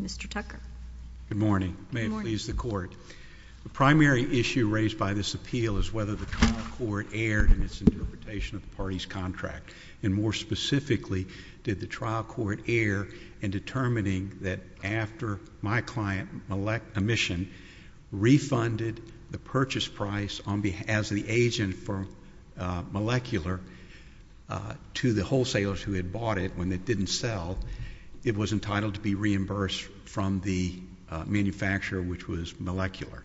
Mr. Tucker. Good morning. May it please the Court. The primary issue raised by this appeal is whether the trial court erred in its interpretation of the party's contract, and more specifically, did the trial court err in determining that after my client, Emission, refunded the purchase price as the agent for Molecular to the wholesalers who had bought it when it didn't sell, it was entitled to be reimbursed from the manufacturer, which was Molecular.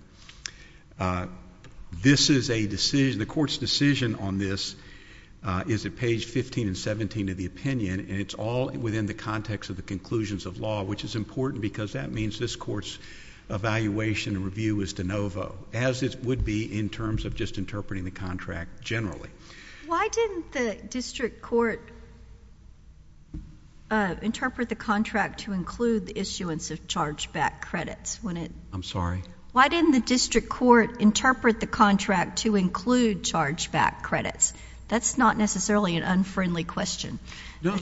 This is a decision, the Court's decision on this is at page 15 and 17 of the opinion, and it's all within the context of the conclusions of law, which is important because that means this Court's evaluation and review is de novo, as it would be in terms of just interpreting the contract generally. Why didn't the district court interpret the contract to include the issuance of charged back credits? I'm sorry? Why didn't the district court interpret the contract to include charged back credits? That's not necessarily an unfriendly question. No, no.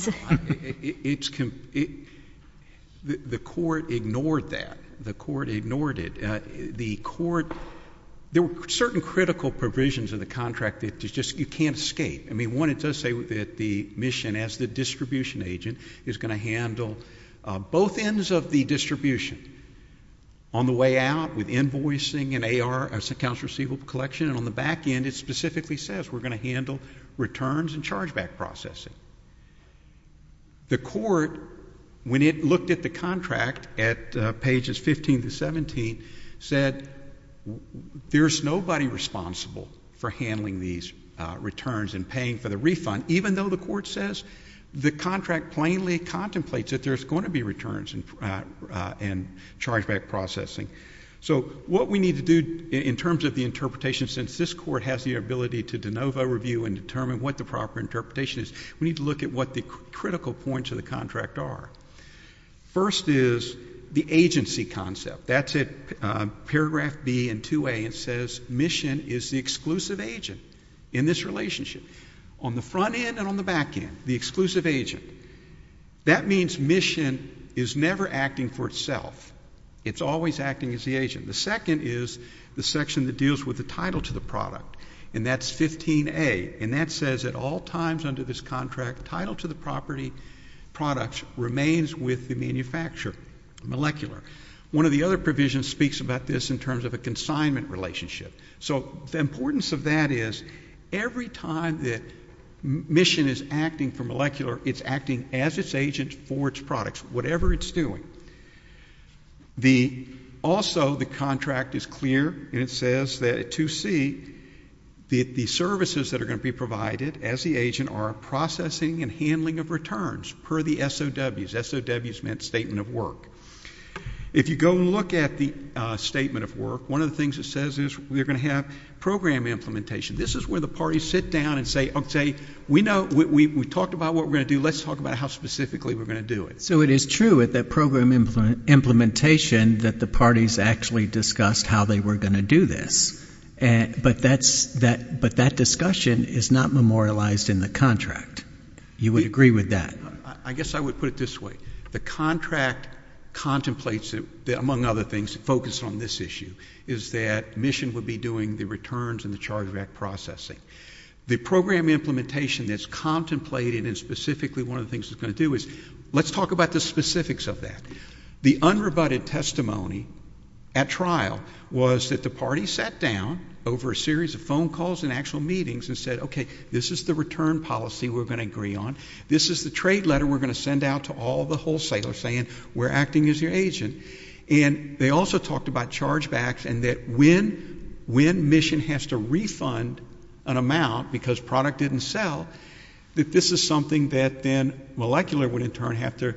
The Court ignored that. The Court ignored it. The Court, there were certain critical provisions in the contract that you just can't escape. I mean, one, it does say that the Mission, as the distribution agent, is going to handle both ends of the distribution. On the way out, with invoicing and AR, accounts receivable collection, and on the back end, it specifically says we're going to handle returns and charged back processing. The Court, when it looked at the contract at pages 15 to 17, said there's nobody responsible for handling these returns and paying for the refund, even though the Court says the contract plainly contemplates that there's going to be returns and charged back processing. So what we need to do in terms of the interpretation, since this Court has the ability to de novo review and determine what the proper interpretation is, we need to look at what the critical points of the contract are. First is the agency concept. That's at paragraph B and 2A. It says Mission is the exclusive agent in this relationship. On the front end and on the back end, the exclusive agent. That means Mission is never acting for itself. It's always acting as the agent. The second is the section that deals with the title to the product, and that's 15A, and that says at all times under this contract, title to the property products remains with the manufacturer, molecular. One of the other provisions speaks about this in terms of a consignment relationship. So the importance of that is every time that Mission is acting for molecular, it's acting as its agent for its products, whatever it's doing. Also, the contract is clear, and it says that at 2C, the services that are going to be provided as the agent are processing and handling of returns per the SOWs. SOWs meant statement of work. If you go and look at the statement of work, one of the things it says is we're going to have program implementation. This is where the parties sit down and say, okay, we talked about what we're going to do. Let's talk about how specifically we're going to do it. So it is true at that program implementation that the parties actually discussed how they were going to do this, but that discussion is not memorialized in the contract. You would agree with that? I guess I would put it this way. The contract contemplates, among other things, focused on this issue, is that Mission would be doing the returns and the chargeback processing. The program implementation that's contemplated and specifically one of the things it's going to do is let's talk about the specifics of that. The unrebutted testimony at trial was that the parties sat down over a series of phone calls and actual meetings and said, okay, this is the return policy we're going to agree on. This is the trade letter we're going to send out to all the wholesalers saying we're acting as your agent. And they also talked about chargebacks and that when Mission has to refund an amount because product didn't sell, that this is something that then Molecular would in turn have to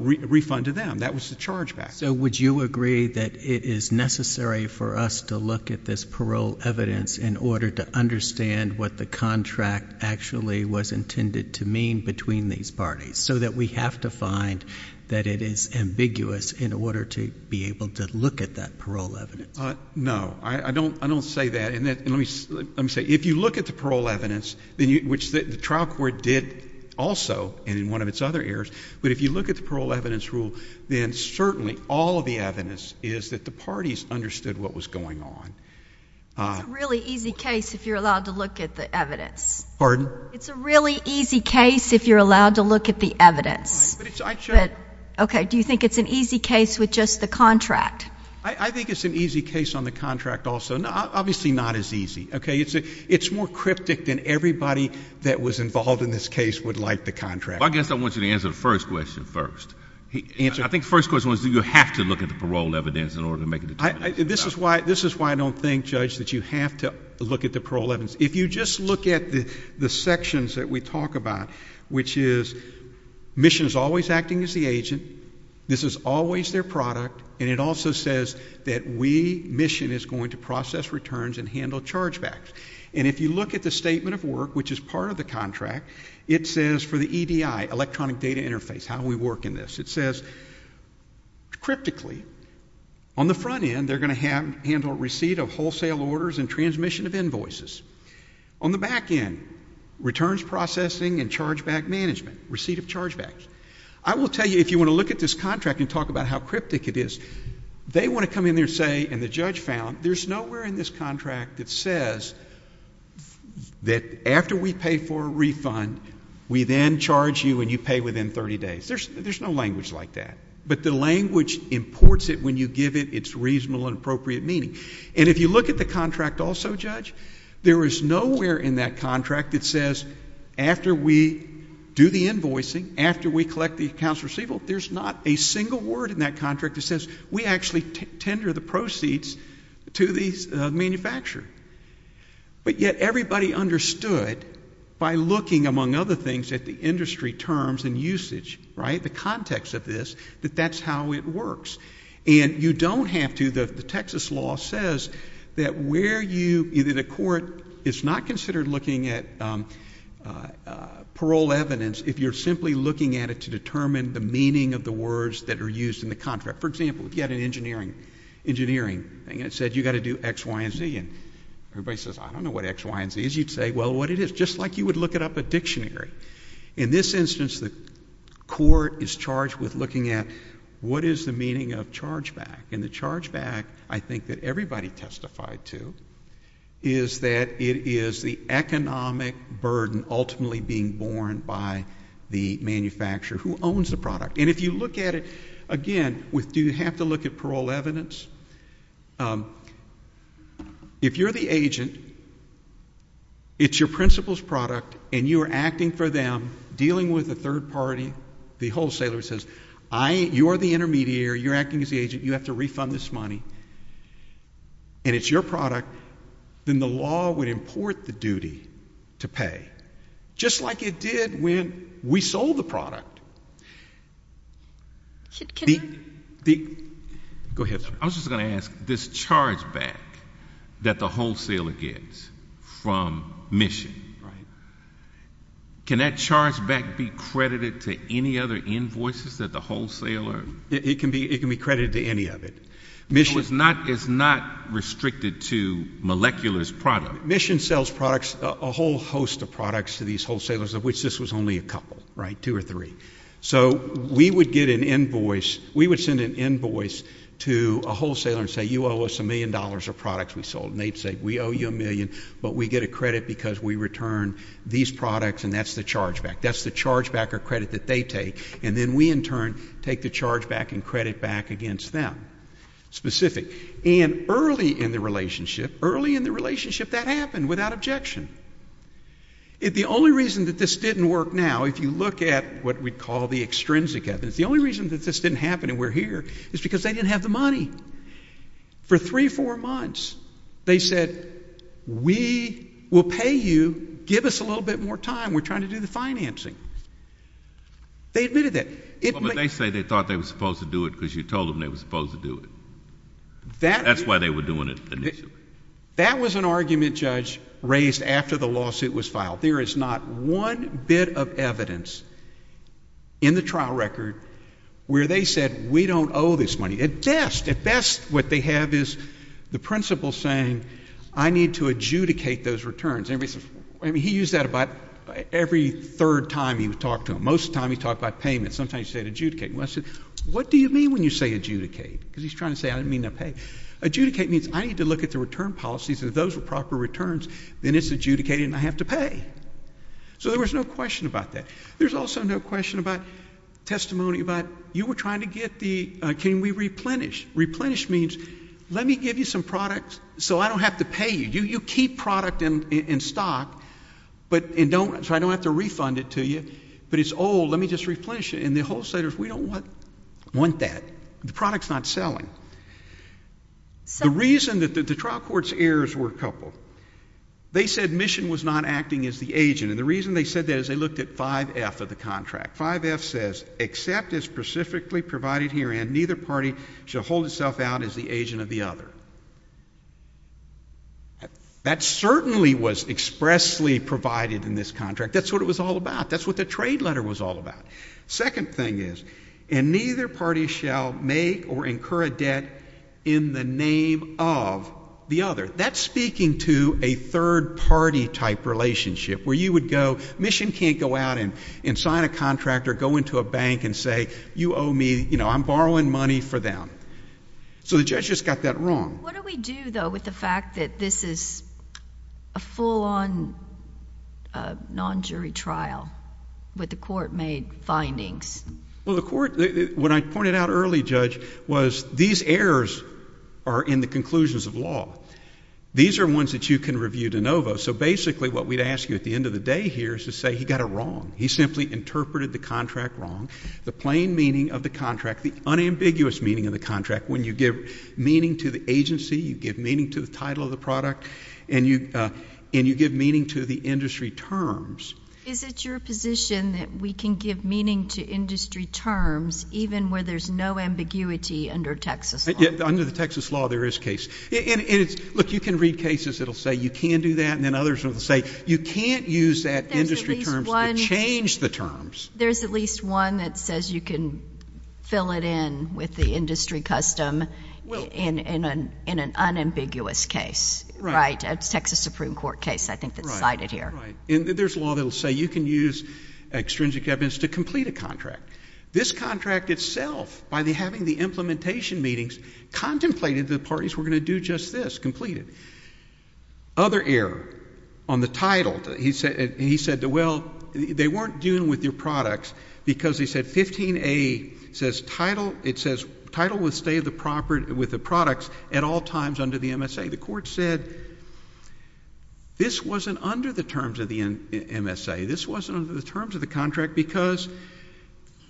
refund to them. That was the chargeback. So would you agree that it is necessary for us to look at this parole evidence in order to understand what the contract actually was intended to mean between these parties so that we have to find that it is and let me say, if you look at the parole evidence, which the trial court did also and in one of its other areas, but if you look at the parole evidence rule, then certainly all of the evidence is that the parties understood what was going on. It's a really easy case if you're allowed to look at the evidence. Pardon? It's a really easy case if you're allowed to look at the evidence. But it's, I, sure. Okay. Do you think it's an easy case with just the contract? I think it's an easy case on the contract also. Obviously not as easy. Okay. It's more cryptic than everybody that was involved in this case would like the contract. Well, I guess I want you to answer the first question first. Answer? I think the first question was do you have to look at the parole evidence in order to make a determination. This is why I don't think, Judge, that you have to look at the parole evidence. If you just look at the sections that we talk about, which is Mission is always acting as the agent, this is always their product, and it also says that we, Mission, is going to process returns and handle chargebacks. And if you look at the statement of work, which is part of the contract, it says for the EDI, Electronic Data Interface, how we work in this, it says cryptically, on the front end, they're going to handle receipt of wholesale orders and transmission of invoices. On the back end, returns processing and chargeback management, receipt of chargebacks. I will tell you, if you want to look at this contract and talk about how cryptic it is, they want to come in there and say, and the judge found, there's nowhere in this contract that says that after we pay for a refund, we then charge you and you pay within 30 days. There's no language like that. But the language imports it when you give it its reasonable and appropriate meaning. And if you look at the contract also, Judge, there is nowhere in that contract that says after we do the invoicing, after we collect the accounts receivable, there's not a single word in that contract that says we actually tender the proceeds to the manufacturer. But yet everybody understood by looking, among other things, at the industry terms and usage, right, the context of this, that that's how it works. And you don't have to, the Texas law says that where you, either the court, it's not considered looking at parole evidence if you're simply looking at it to determine the meaning of the words that are used in the contract. For example, if you had an engineering thing and it said you got to do X, Y, and Z, and everybody says, I don't know what X, Y, and Z is, you'd say, well, what it is, just like you would look it up a dictionary. In this instance, the meaning of chargeback. And the chargeback, I think that everybody testified to, is that it is the economic burden ultimately being borne by the manufacturer who owns the product. And if you look at it, again, with do you have to look at parole evidence? If you're the agent, it's your principal's product, and you are acting for them, dealing with a third party, the wholesaler says, you're the intermediary, you're acting as the agent, you have to refund this money, and it's your product, then the law would import the duty to pay, just like it did when we sold the product. Go ahead, sir. I was just going to ask, this chargeback that the wholesaler gets from mission, can that be credited to any other invoices that the wholesaler It can be credited to any of it. So it's not restricted to molecular's product? Mission sells products, a whole host of products to these wholesalers, of which this was only a couple, right, two or three. So we would get an invoice, we would send an invoice to a wholesaler and say, you owe us a million dollars of products we sold, and they'd say, we owe you a million, but we get a credit because we return these products, and that's the chargeback, that's the chargeback or credit that they take, and then we in turn take the chargeback and credit back against them, specific. And early in the relationship, early in the relationship, that happened without objection. The only reason that this didn't work now, if you look at what we'd call the extrinsic evidence, the only reason that this didn't happen and we're here is because they didn't have the money. For three, four months, they said, we will pay you, give us a little bit more time, we're trying to do the financing. They admitted that. Well, but they say they thought they were supposed to do it because you told them they were supposed to do it. That's why they were doing it initially. That was an argument, Judge, raised after the lawsuit was filed. There is not one bit of evidence in the trial record where they said, we don't owe this money. At best, at best, what they have is the principal saying, I need to adjudicate those returns. Everybody used that about every third time he would talk to them. Most of the time, he talked about payments. Sometimes he said adjudicate. And I said, what do you mean when you say adjudicate? Because he's trying to say, I didn't mean to pay. Adjudicate means, I need to look at the return policies. If those were proper returns, then it's adjudicated and I have to pay. So there was no question about that. There's also no question about testimony about, you were trying to get the, can we replenish? Replenish means, let me give you some products so I don't have to pay you. You keep product in stock, but, and don't, so I don't have to refund it to you, but it's old, let me just replenish it. And the wholesalers, we don't want that. The product's not selling. The reason that the trial court's errors were coupled, they said Mission was not acting as the agent. And the reason they said that is they looked at 5F of the contract. 5F says, except as specifically provided herein, neither party shall hold itself out as the agent of the other. That certainly was expressly provided in this contract. That's what it was all about. That's what the trade letter was all about. Second thing is, and neither party shall make or incur a debt in the name of the other. That's speaking to a third party type relationship, where you would go, Mission can't go out and sign a contract or go into a bank and say, you owe me, you know, I'm borrowing money for them. So the judge just got that wrong. What do we do, though, with the fact that this is a full-on non-jury trial with the court made findings? Well, the court, what I pointed out early, Judge, was these errors are in the conclusions of law. These are ones that you can review de novo. So basically what we'd ask you at the end of the day here is to say he got it wrong. He simply interpreted the contract wrong. The plain meaning of the contract, the unambiguous meaning of the contract when you give meaning to the agency, you give meaning to the title of the product, and you give meaning to the industry terms. Is it your position that we can give meaning to industry terms even where there's no ambiguity under Texas law? Under the Texas law, there is case. And it's, look, you can read cases that will say you can do that, and then others will say you can't use that industry terms to change the terms. There's at least one that says you can fill it in with the industry custom in an unambiguous case, right? A Texas Supreme Court case, I think, that's cited here. Right. And there's law that will say you can use extrinsic evidence to complete a contract. This contract itself, by having the implementation meetings, contemplated the parties were going to do just this, complete it. Other error on the title. He said, well, they weren't dealing with your products because he said 15A says title, it says title will stay with the products at all times under the MSA. The court said this wasn't under the terms of the MSA. This wasn't under the terms of the contract because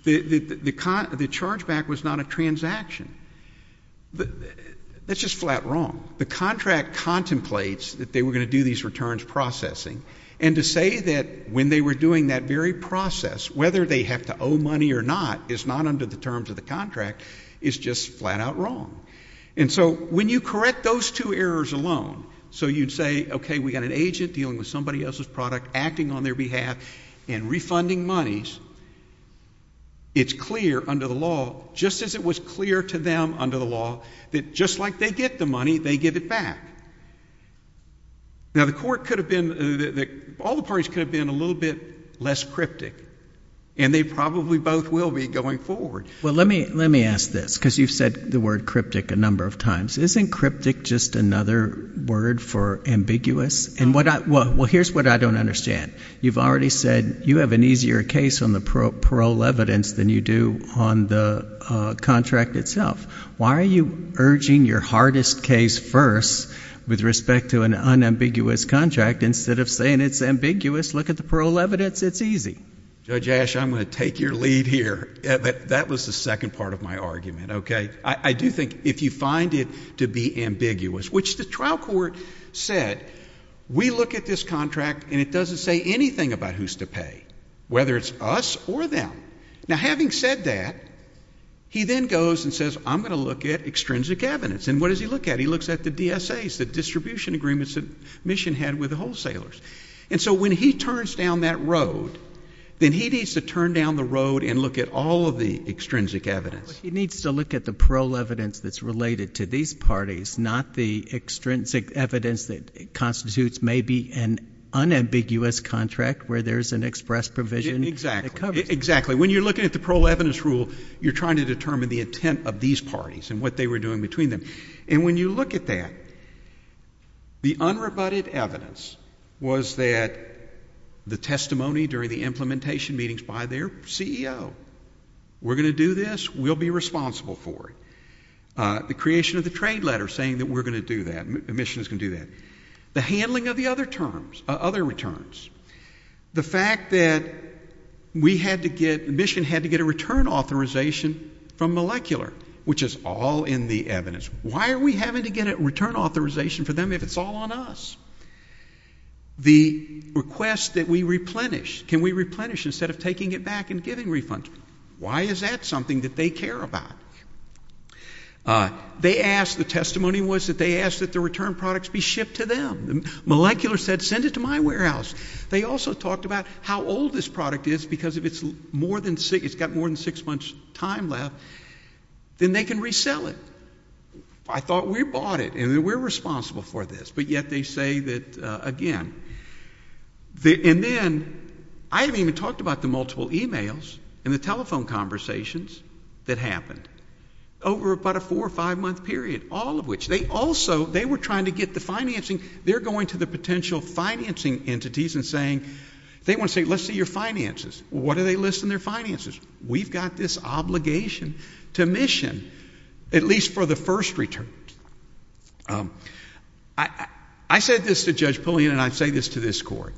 the chargeback was not a transaction. That's just flat wrong. The contract contemplates that they were going to do these returns processing, and to say that when they were doing that very process, whether they have to owe money or not is not under the terms of the contract, is just flat out wrong. And so when you correct those two errors alone, so you'd say, okay, we've got an agent dealing with somebody else's product, acting on their behalf, and refunding monies, it's clear under the law, just as it was clear to them under the law, that just like they get the money, they get it back. Now the court could have been, all the parties could have been a little bit less cryptic, and they probably both will be going forward. Well, let me ask this, because you've said the word cryptic a number of times. Isn't cryptic just another word for ambiguous? And what I, well, here's what I don't understand. You've already said you have an easier case on the parole evidence than you do on the contract itself. Why are you urging your hardest case first with respect to an unambiguous contract instead of saying it's ambiguous, look at the parole evidence, it's easy? Judge Asch, I'm going to take your lead here. That was the second part of my argument, okay? I do think if you find it to be ambiguous, which the trial court said, we look at this contract and it doesn't say anything about who's to pay, whether it's us or them. Now Ben goes and says, I'm going to look at extrinsic evidence. And what does he look at? He looks at the DSAs, the distribution agreements that Mission had with the wholesalers. And so when he turns down that road, then he needs to turn down the road and look at all of the extrinsic evidence. He needs to look at the parole evidence that's related to these parties, not the extrinsic evidence that constitutes maybe an unambiguous contract where there's an express provision that covers it. Exactly. When you're looking at the parole evidence rule, you're trying to determine the intent of these parties and what they were doing between them. And when you look at that, the unrebutted evidence was that the testimony during the implementation meetings by their CEO, we're going to do this, we'll be responsible for it. The creation of the trade letter saying that we're going to do that, Mission is going to do that. The handling of the other terms, other returns. The fact that we had to get, Mission had to get a return authorization from Molecular, which is all in the evidence. Why are we having to get a return authorization for them if it's all on us? The request that we replenish, can we replenish instead of taking it back and giving refunds? Why is that something that they care about? They asked, the testimony was that they asked that the return products be shipped to them. Molecular said, send it to my warehouse. They also talked about how old this product is, because if it's got more than six months' time left, then they can resell it. I thought we bought it, and we're responsible for this. But yet they say that, again. And then, I haven't even talked about the multiple e-mails and the telephone conversations that happened over about a four or five-month period, all of which. They also, they were trying to get the financing. They're going to the potential financing entities and saying, they want to say, let's see your finances. What do they list in their finances? We've got this obligation to Mission, at least for the first return. I said this to Judge Pullian, and I say this to this Court.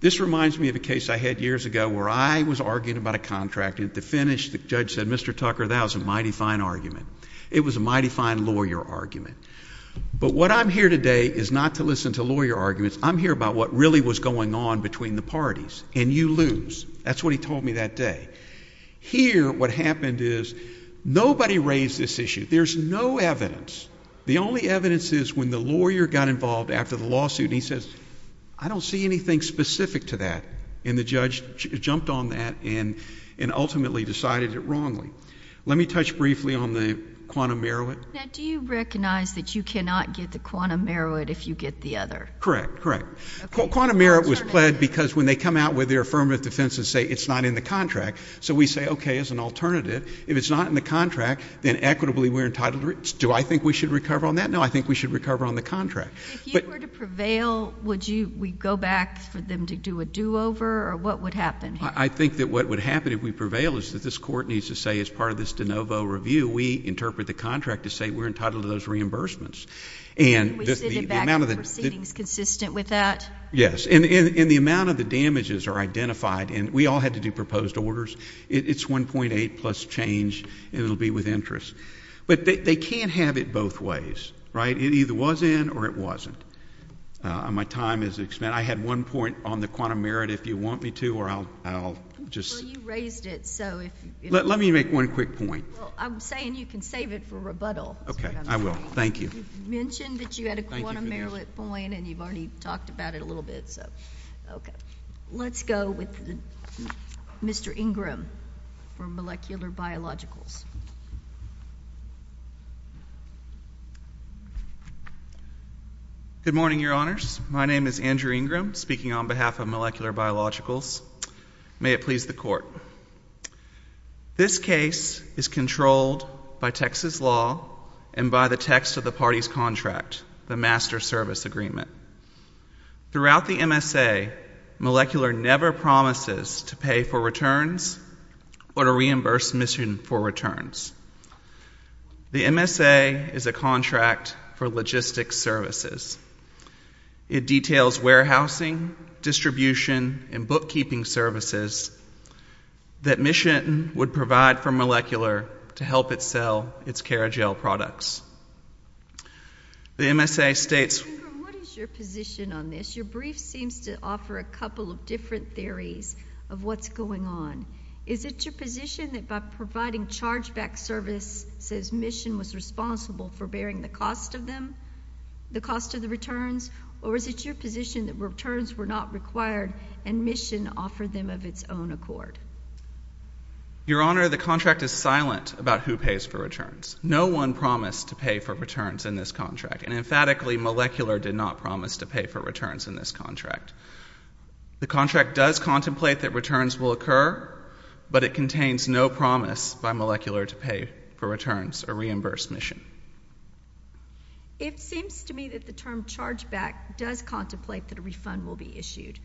This reminds me of a case I had years ago where I was arguing about a contract, and at the finish, the judge said, Mr. Tucker, that was a mighty fine argument. It was a mighty fine lawyer argument. But what I'm here today is not to listen to lawyer arguments. I'm here about what really was going on between the parties, and you lose. That's what he told me that day. Here, what happened is, nobody raised this issue. There's no evidence. The only evidence is when the lawyer got involved after the lawsuit, and he says, I don't see anything specific to that. And the judge jumped on that and ultimately decided it wrongly. Let me touch briefly on the quantum merit. Now, do you recognize that you cannot get the quantum merit if you get the other? Correct. Correct. Quantum merit was pled because when they come out with their affirmative defense and say, it's not in the contract, so we say, okay, as an alternative, if it's not in the contract, then equitably we're entitled to, do I think we should recover on that? No, I think we should recover on the contract. If you were to prevail, would you, would you go back for them to do a do-over, or what would happen here? I think that what would happen if we prevail is that this Court needs to say, as part of this de novo review, we interpret the contract to say we're entitled to those reimbursements. And the amount of the And we send it back, are the proceedings consistent with that? Yes. And the amount of the damages are identified, and we all had to do proposed orders. It's 1.8 plus change, and it'll be with interest. But they can't have it both ways, right? It either was in, or it wasn't. My time is expended. I had one point on the quantum merit, if you want me to, or I'll just Well, you raised it, so if Let me make one quick point Well, I'm saying you can save it for rebuttal, is what I'm saying Okay, I will. Thank you You mentioned that you had a quantum merit point, and you've already talked about it a little bit, so, okay. Let's go with Mr. Ingram from Molecular Biologicals Good morning, Your Honors. My name is Andrew Ingram, speaking on behalf of Molecular Biologicals. May it please the Court. This case is controlled by Texas law and by the text of the party's contract, the Master Service Agreement. Throughout the MSA, Molecular never promises to pay for returns. The MSA is a contract for logistics services. It details warehousing, distribution, and bookkeeping services that Michetin would provide for Molecular to help it sell its CaraGel products. The MSA states Mr. Ingram, what is your position on this? Your brief seems to offer a couple of different theories of what's going on. Is it your position that by providing chargeback services, Michetin was responsible for bearing the cost of them, the cost of the returns? Or is it your position that returns were not required, and Michetin offered them of its own accord? Your Honor, the contract is silent about who pays for returns. No one promised to pay for returns in this contract, and emphatically, Molecular did not promise to pay for returns in this contract. The contract does contemplate that returns will occur, but it contains no promise by Molecular to pay for returns, a reimbursed mission. It seems to me that the term chargeback does contemplate that a refund will be issued.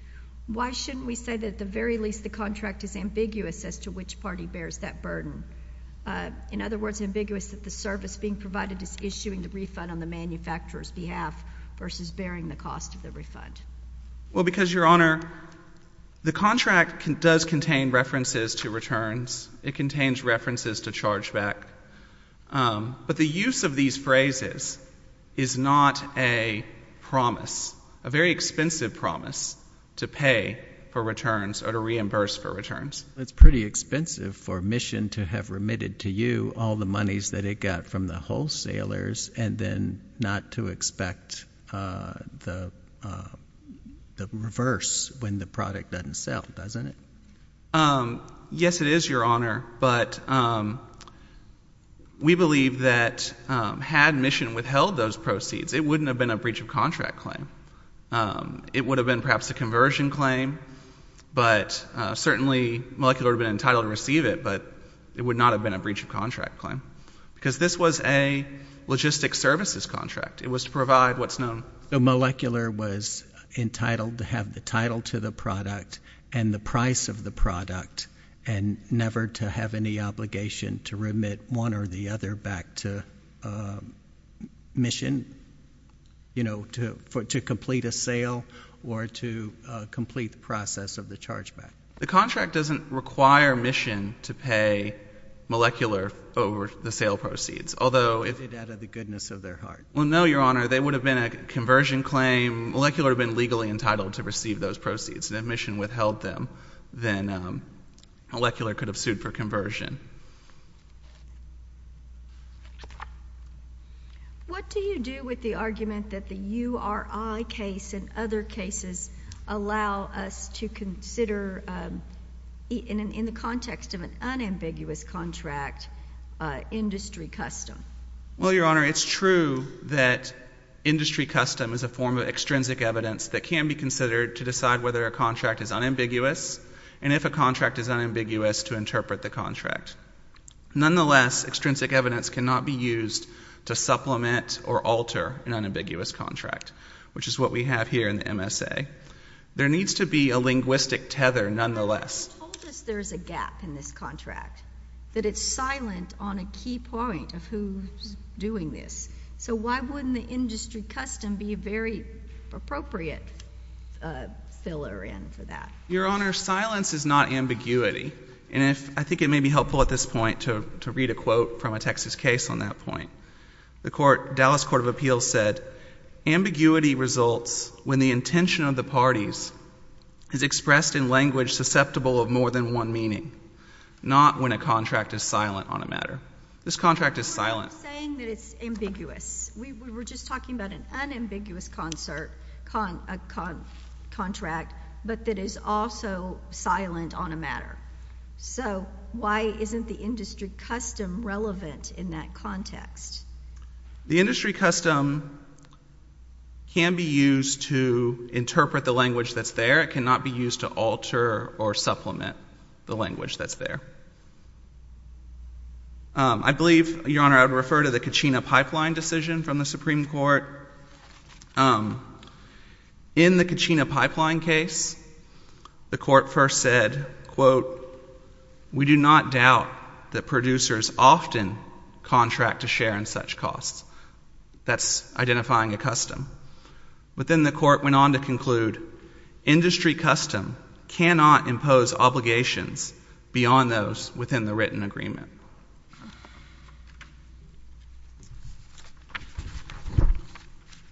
Why shouldn't we say that at the very least the contract is ambiguous as to which party bears that burden? In other words, ambiguous that the service being provided is issuing a refund on the manufacturer's behalf versus bearing the cost of the refund. Well, because, Your Honor, the contract does contain references to returns. It contains references to chargeback. But the use of these phrases is not a promise, a very expensive promise to pay for returns or to reimburse for returns. It's pretty expensive for Michetin to have remitted to you all the monies that it got from the wholesalers and then not to expect the reverse when the product doesn't sell, doesn't it? Yes, it is, Your Honor, but we believe that had Michetin withheld those proceeds, it wouldn't have been a breach of contract claim. It would have been perhaps a conversion claim, but certainly Molecular would have been entitled to receive it, but it would not have been a breach of contract claim because this was a logistic services contract. It was to provide what's known. So Molecular was entitled to have the title to the product and the price of the product and never to have any obligation to remit one or the other back to Michetin, you know, to complete a sale or to complete the process of the chargeback. The contract doesn't require Michetin to pay Molecular over the sale proceeds, although if —— out of the goodness of their heart. Well, no, Your Honor. They would have been a conversion claim. Molecular would have been legally entitled to receive those proceeds. If Michetin withheld them, then Molecular could have sued for conversion. What do you do with the argument that the URI case and other cases allow us to consider in the context of an unambiguous contract, industry custom? Well, Your Honor, it's true that industry custom is a form of extrinsic evidence that can be considered to decide whether a contract is unambiguous and if a contract is unambiguous to interpret the contract. Nonetheless, extrinsic evidence cannot be used to supplement or alter an unambiguous contract, which is what we have here in the MSA. There needs to be a You told us there's a gap in this contract, that it's silent on a key point of who's doing this. So why wouldn't the industry custom be a very appropriate filler in for that? Your Honor, silence is not ambiguity. And if — I think it may be helpful at this point to read a quote from a Texas case on that point. The court — Dallas Court of Appeals said, ambiguity results when the intention of the parties is expressed in language susceptible of more than one meaning, not when a contract is silent on a matter. This contract is silent. I'm not saying that it's ambiguous. We were just talking about an unambiguous contract, but that is also silent on a matter. So why isn't the industry custom relevant in that context? The industry custom can be used to interpret the language that's there. It cannot be used to alter or supplement the language that's there. I believe, Your Honor, I would refer to the Kachina pipeline decision from the Supreme Court. In the Kachina pipeline case, the court first said, quote, we do not doubt that producers often contract to share in such costs. That's identifying a custom. But then the court went on to conclude, industry custom cannot impose obligations beyond those within the written agreement.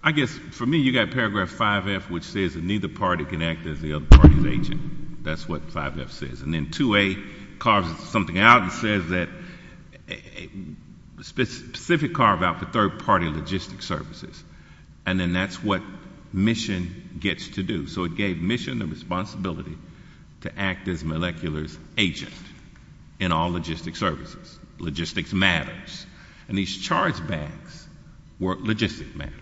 I guess, for me, you got paragraph 5F, which says that neither party can act as the other party. That's what 5F says. And then 2A carves something out and says that specific carve out for third party logistic services. And then that's what mission gets to do. So it gave mission the responsibility to act as molecular's agent in all logistic services. Logistics matters. And these charge bags were logistic matters.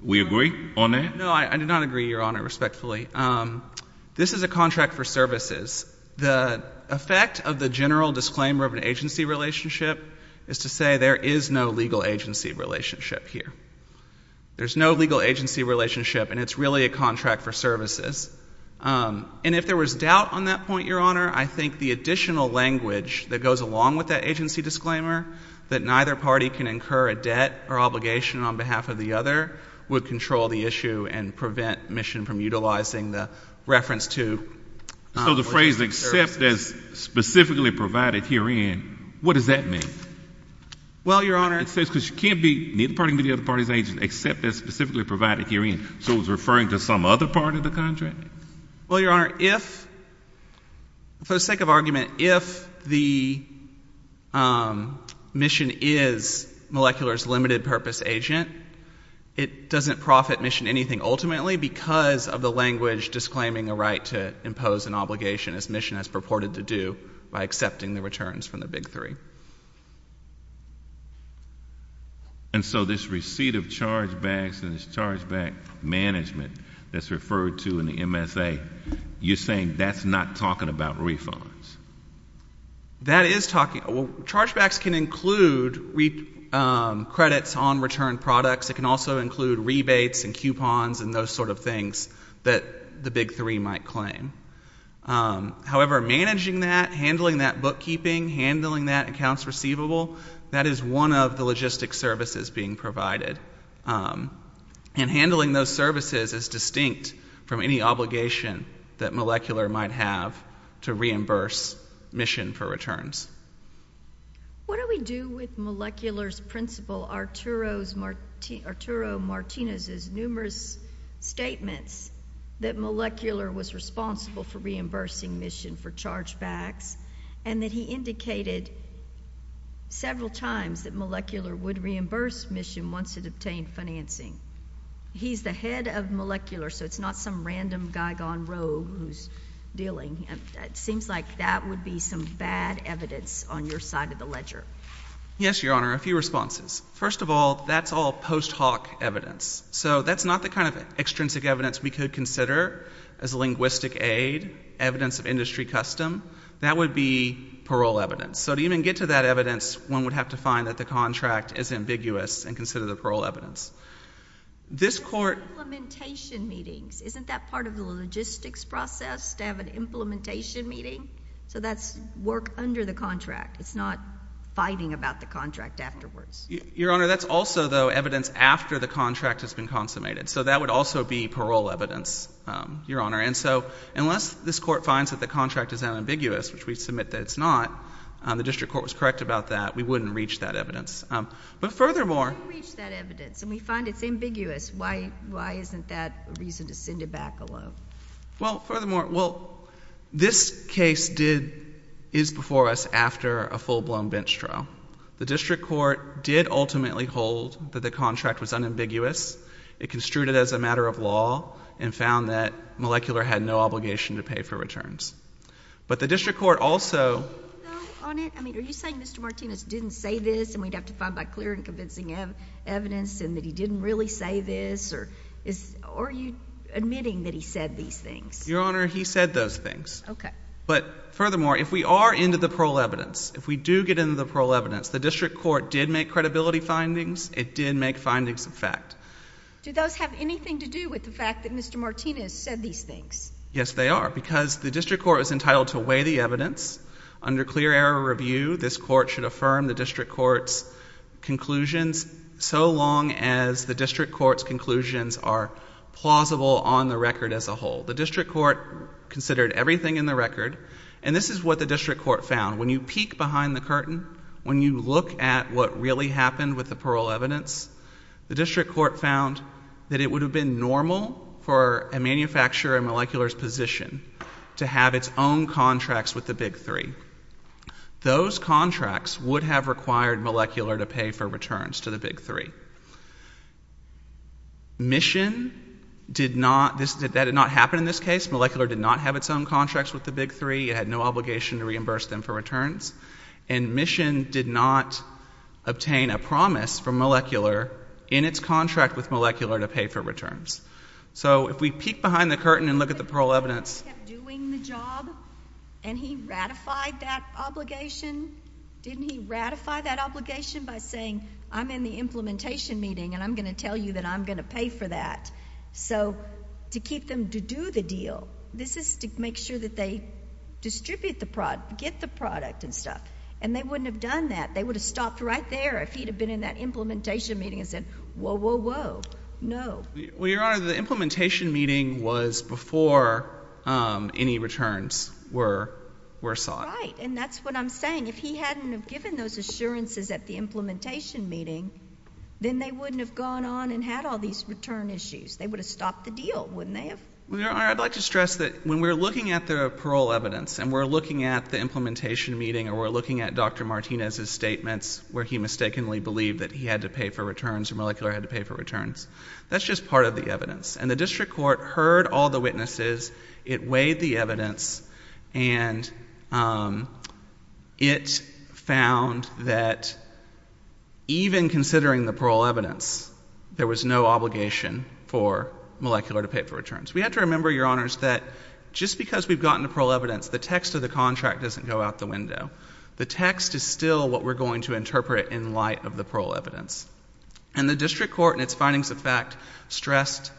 We agree on that? No, I do not agree, Your Honor, respectfully. This is a contract for services. The effect of the general disclaimer of an agency relationship is to say there is no legal agency relationship here. There's no legal agency relationship, and it's really a contract for services. And if there was doubt on that point, Your Honor, I think the additional language that goes along with that agency disclaimer, that neither party can incur a debt or obligation on behalf of the other, would control the issue and prevent mission from utilizing the reference to logistic services. So the phrase except as specifically provided herein, what does that mean? Well, Your Honor — It says because you can't be neither party can be the other party's agent except as specifically provided herein. So it was referring to some other part of the contract? Well, Your Honor, if — for the sake of argument, if the mission is molecular's limited purpose agent, it doesn't profit mission anything ultimately because of the language disclaiming a right to impose an obligation as mission has purported to do by accepting the returns from the Big Three. And so this receipt of chargebacks and this chargeback management that's referred to in the MSA, you're saying that's not talking about refunds? That is talking — well, chargebacks can include credits on return products. It can also include rebates and coupons and those sort of things that the Big Three might claim. However, managing that, handling that bookkeeping, handling that accounts receivable, that is one of the logistic services being provided. And handling those services is distinct from any obligation that Molecular might have to reimburse mission for returns. What do we do with Molecular's principal Arturo Martinez's numerous statements that Molecular was responsible for reimbursing mission for chargebacks and that he indicated several times that Molecular would reimburse mission once it obtained financing? He's the head of Molecular, so it's not some random guy gone rogue who's dealing. It seems like that would be some bad evidence on your side of the ledger. Yes, Your Honor. A few responses. First of all, that's all post hoc evidence. So that's not the kind of extrinsic evidence we could consider as linguistic aid, evidence of industry custom. That would be parole evidence. So to even get to that evidence, one would have to find that the contract is ambiguous and consider the parole evidence. There are implementation meetings. Isn't that part of the logistics process, to have an implementation meeting? So that's work under the contract. It's not fighting about the contract afterwards. Your Honor, that's also, though, evidence after the contract has been consummated. So that would also be parole evidence, Your Honor. And so unless this Court finds that the contract is unambiguous, which we submit that it's not, the district court was correct about that, we wouldn't reach that evidence. But furthermore— But if we don't reach that evidence and we find it's ambiguous, why isn't that a reason to send it back alone? Well, furthermore, well, this case did—is before us after a full-blown bench trial. The district court did ultimately hold that the contract was unambiguous. It construed it as a matter of law and found that Molecular had no obligation to pay for returns. But the district court also— Are you saying, though, on it—I mean, are you saying Mr. Martinez didn't say this and we'd have to find by clear and convincing evidence and that he didn't really say this? Or are you admitting that he said these things? Your Honor, he said those things. Okay. But furthermore, if we are into the parole evidence, if we do get into the parole evidence, the district court did make credibility findings. It did make findings of fact. Do those have anything to do with the fact that Mr. Martinez said these things? Yes, they are. Because the district court is entitled to weigh the evidence. Under clear review, this court should affirm the district court's conclusions so long as the district court's conclusions are plausible on the record as a whole. The district court considered everything in the record, and this is what the district court found. When you peek behind the curtain, when you look at what really happened with the parole evidence, the district court found that it would have been normal for a manufacturer in Molecular's position to have its own contracts with the Big Three. Those contracts would have required Molecular to pay for returns to the Big Three. Mission did not, that did not happen in this case. Molecular did not have its own contracts with the Big Three. It had no obligation to reimburse them for returns. And Mission did not obtain a promise from Molecular in its contract with the Big Three that they would have to pay for returns to the Big Three. Did Mr. Martinez keep doing the job, and he ratified that obligation? Didn't he ratify that obligation by saying, I'm in the implementation meeting, and I'm going to tell you that I'm going to pay for that? So to keep them to do the deal, this is to make sure that they distribute the product, get the product and stuff. And they wouldn't have done that. They would have stopped right there if he'd have been in that implementation meeting and said, whoa, whoa, whoa. No. Well, Your Honor, the implementation meeting was before any returns were sought. Right. And that's what I'm saying. If he hadn't have given those assurances at the implementation meeting, then they wouldn't have gone on and had all these return issues. They would have stopped the deal, wouldn't they have? Well, Your Honor, I'd like to stress that when we're looking at the parole evidence and we're looking at the implementation meeting or we're looking at Dr. Martinez's statements where he mistakenly believed that he had to pay for returns or Molecular had to pay for returns, this is part of the evidence. And the district court heard all the witnesses, it weighed the evidence, and it found that even considering the parole evidence, there was no obligation for Molecular to pay for returns. We have to remember, Your Honors, that just because we've gotten the parole evidence, the text of the contract doesn't go out the window. The text is still what we're going to interpret in light of the parole evidence. And the district court and its findings of that contract stressed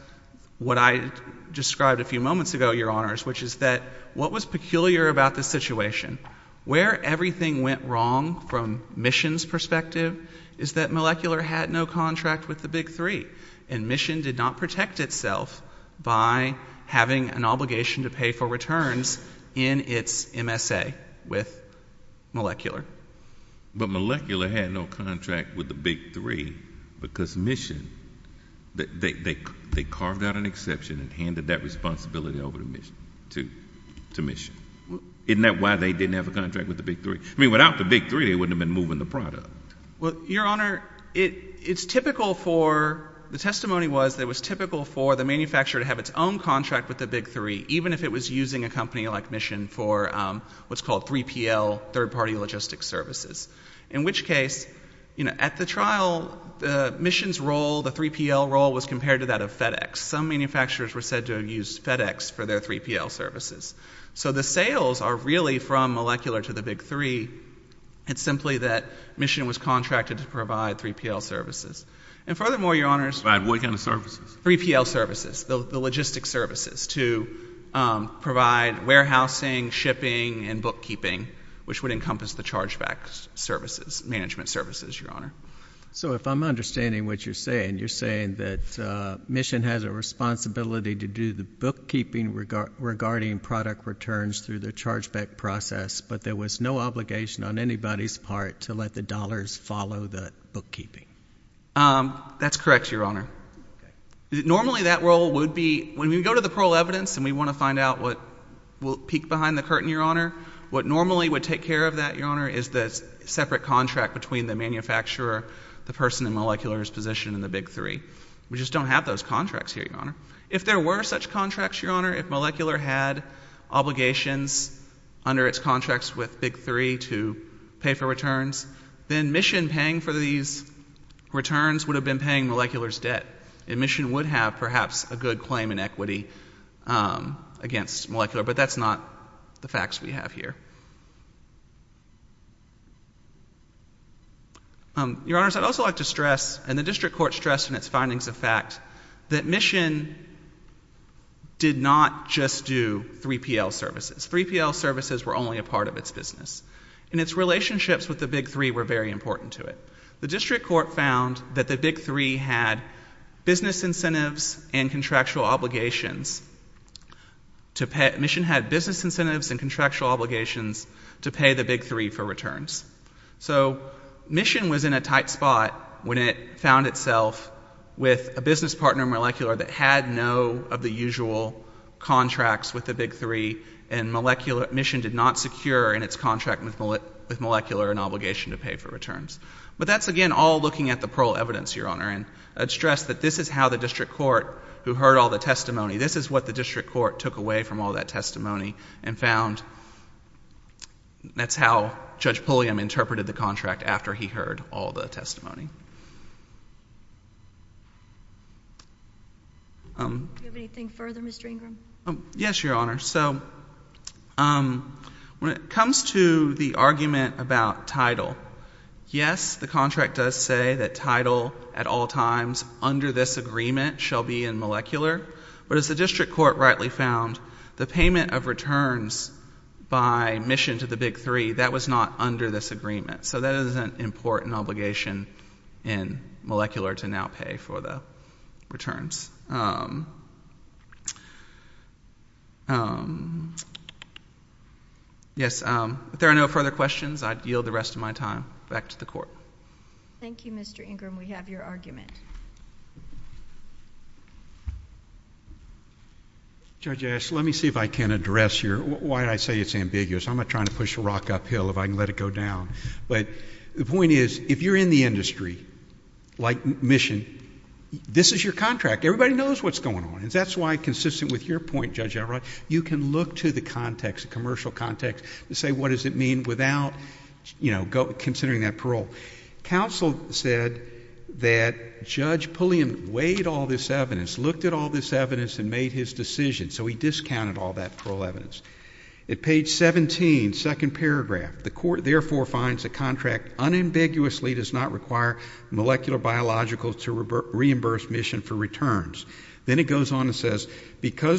what I described a few moments ago, Your Honors, which is that what was peculiar about this situation, where everything went wrong from Mission's perspective is that Molecular had no contract with the Big Three, and Mission did not protect itself by having an obligation to pay for returns in its MSA with Molecular. But Molecular had no contract with the Big Three because Mission, they carved out an exception and handed that responsibility over to Mission. Isn't that why they didn't have a contract with the Big Three? I mean, without the Big Three, they wouldn't have been moving the product. Well, Your Honor, it's typical for, the testimony was that it was typical for the manufacturer to have its own contract with the Big Three, even if it was using a company like Mission for what's called 3PL, third-party logistic services, in which case, you know, at the trial, the Mission's role, the 3PL role was compared to that of FedEx. Some manufacturers were said to have used FedEx for their 3PL services. So the sales are really from Molecular to the Big Three. It's simply that Mission was contracted to provide 3PL services. And furthermore, Your Honors— Provide what kind of services? 3PL services, the logistic services to provide warehousing, shipping, and bookkeeping, which would encompass the chargeback services, management services, Your Honor. So if I'm understanding what you're saying, you're saying that Mission has a responsibility to do the bookkeeping regarding product returns through the chargeback process, but there was no obligation on anybody's part to let the dollars follow the bookkeeping? That's correct, Your Honor. Normally that role would be—when we go to the parole evidence and we want to find out what will peek behind the curtain, Your Honor, what normally would take care of that, Your Honor, is the separate contract between the manufacturer, the person in Molecular's position in the Big Three. We just don't have those contracts here, Your Honor. If there were such contracts, Your Honor, if Molecular had obligations under its Mission paying for these returns would have been paying Molecular's debt, and Mission would have perhaps a good claim in equity against Molecular, but that's not the facts we have here. Your Honors, I'd also like to stress, and the District Court stressed in its findings of fact, that Mission did not just do 3PL services. 3PL services were only a part of its business, and its relationships with the Big Three were very important to it. The District Court found that the Big Three had business incentives and contractual obligations to pay—Mission had business incentives and contractual obligations to pay the Big Three for returns. So Mission was in a tight spot when it found itself with a business partner in Molecular that had no of the usual contracts with the Big Three, and Mission did not secure in its contract with Molecular an obligation to pay for returns. But that's again all looking at the parole evidence, Your Honor, and I'd stress that this is how the District Court, who heard all the testimony—this is what the District Court took away from all that testimony and found—that's how Judge Pulliam interpreted the contract after he heard all the testimony. Do you have anything further, Mr. Ingram? Yes, Your Honor. So when it comes to the argument about title, yes, the contract does say that title at all times under this agreement shall be in Molecular, but as the District Court rightly found, the payment of returns by Mission to the Big Three, that was not under this agreement. So that is an important obligation in Molecular to now pay for the returns. Yes, if there are no further questions, I yield the rest of my time back to the Court. Thank you, Mr. Ingram. We have your argument. Judge Ash, let me see if I can address your—why I say it's ambiguous. I'm not trying to push a rock uphill if I can let it go down. But the point is, if you're in the industry, like Mission, this is your contract. Everybody knows what's going on, and that's why, consistent with your point, Judge Everett, you can look to the context, the commercial context, and say what does it mean without, you know, considering that parole. Counsel said that Judge Pulliam weighed all this evidence, looked at all this evidence and made his decision, so he discounted all that parole evidence. At page 17, second paragraph, the Court therefore finds the contract unambiguously does not Because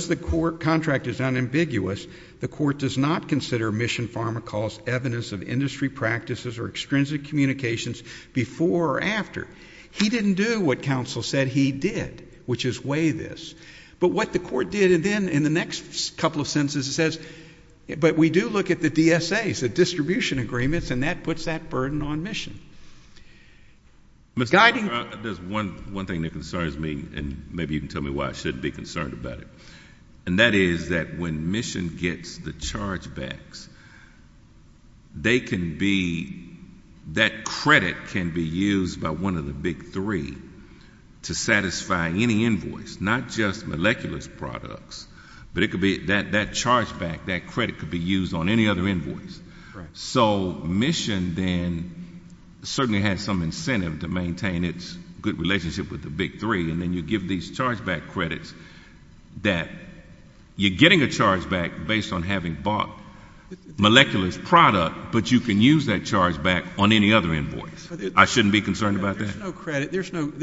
the contract is unambiguous, the Court does not consider Mission Pharmacol's evidence of industry practices or extrinsic communications before or after. He didn't do what counsel said he did, which is weigh this. But what the Court did, and then in the next couple of sentences it says, but we do look at the DSAs, the distribution agreements, and that puts that burden on Mission. Mr. Ingram, there's one thing that concerns me, and maybe you can tell me why I shouldn't be concerned about it, and that is that when Mission gets the chargebacks, they can be, that credit can be used by one of the big three to satisfy any invoice, not just molecular products, but it could be, that chargeback, that credit could be used on any other invoice. So Mission then certainly has some incentive to maintain its good relationship with the chargeback credits, that you're getting a chargeback based on having bought molecular's product, but you can use that chargeback on any other invoice. I shouldn't be concerned about that? There's no credit.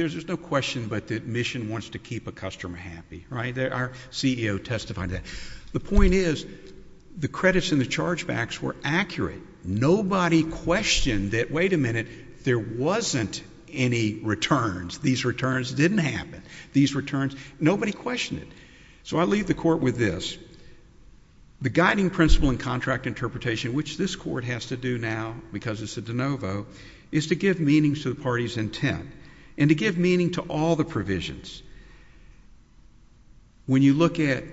There's no question but that Mission wants to keep a customer happy, right? Our CEO testified to that. The point is, the credits and the chargebacks were accurate. Nobody questioned that, wait a minute, there wasn't any returns. These returns didn't happen. These returns, nobody questioned it. So I leave the Court with this. The guiding principle in contract interpretation, which this Court has to do now, because it's a de novo, is to give meaning to the party's intent, and to give meaning to all the provisions. When you look at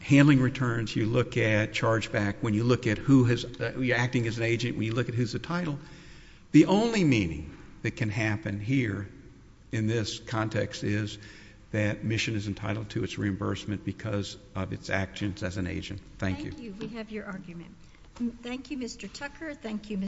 handling returns, you look at chargeback, when you look at who has, you're acting as an agent, when you look at who's the title, the only meaning that can happen here in this context is that Mission is entitled to its reimbursement because of its actions as an agent. Thank you. Thank you. We have your argument. Thank you, Mr. Tucker. Thank you, Mr.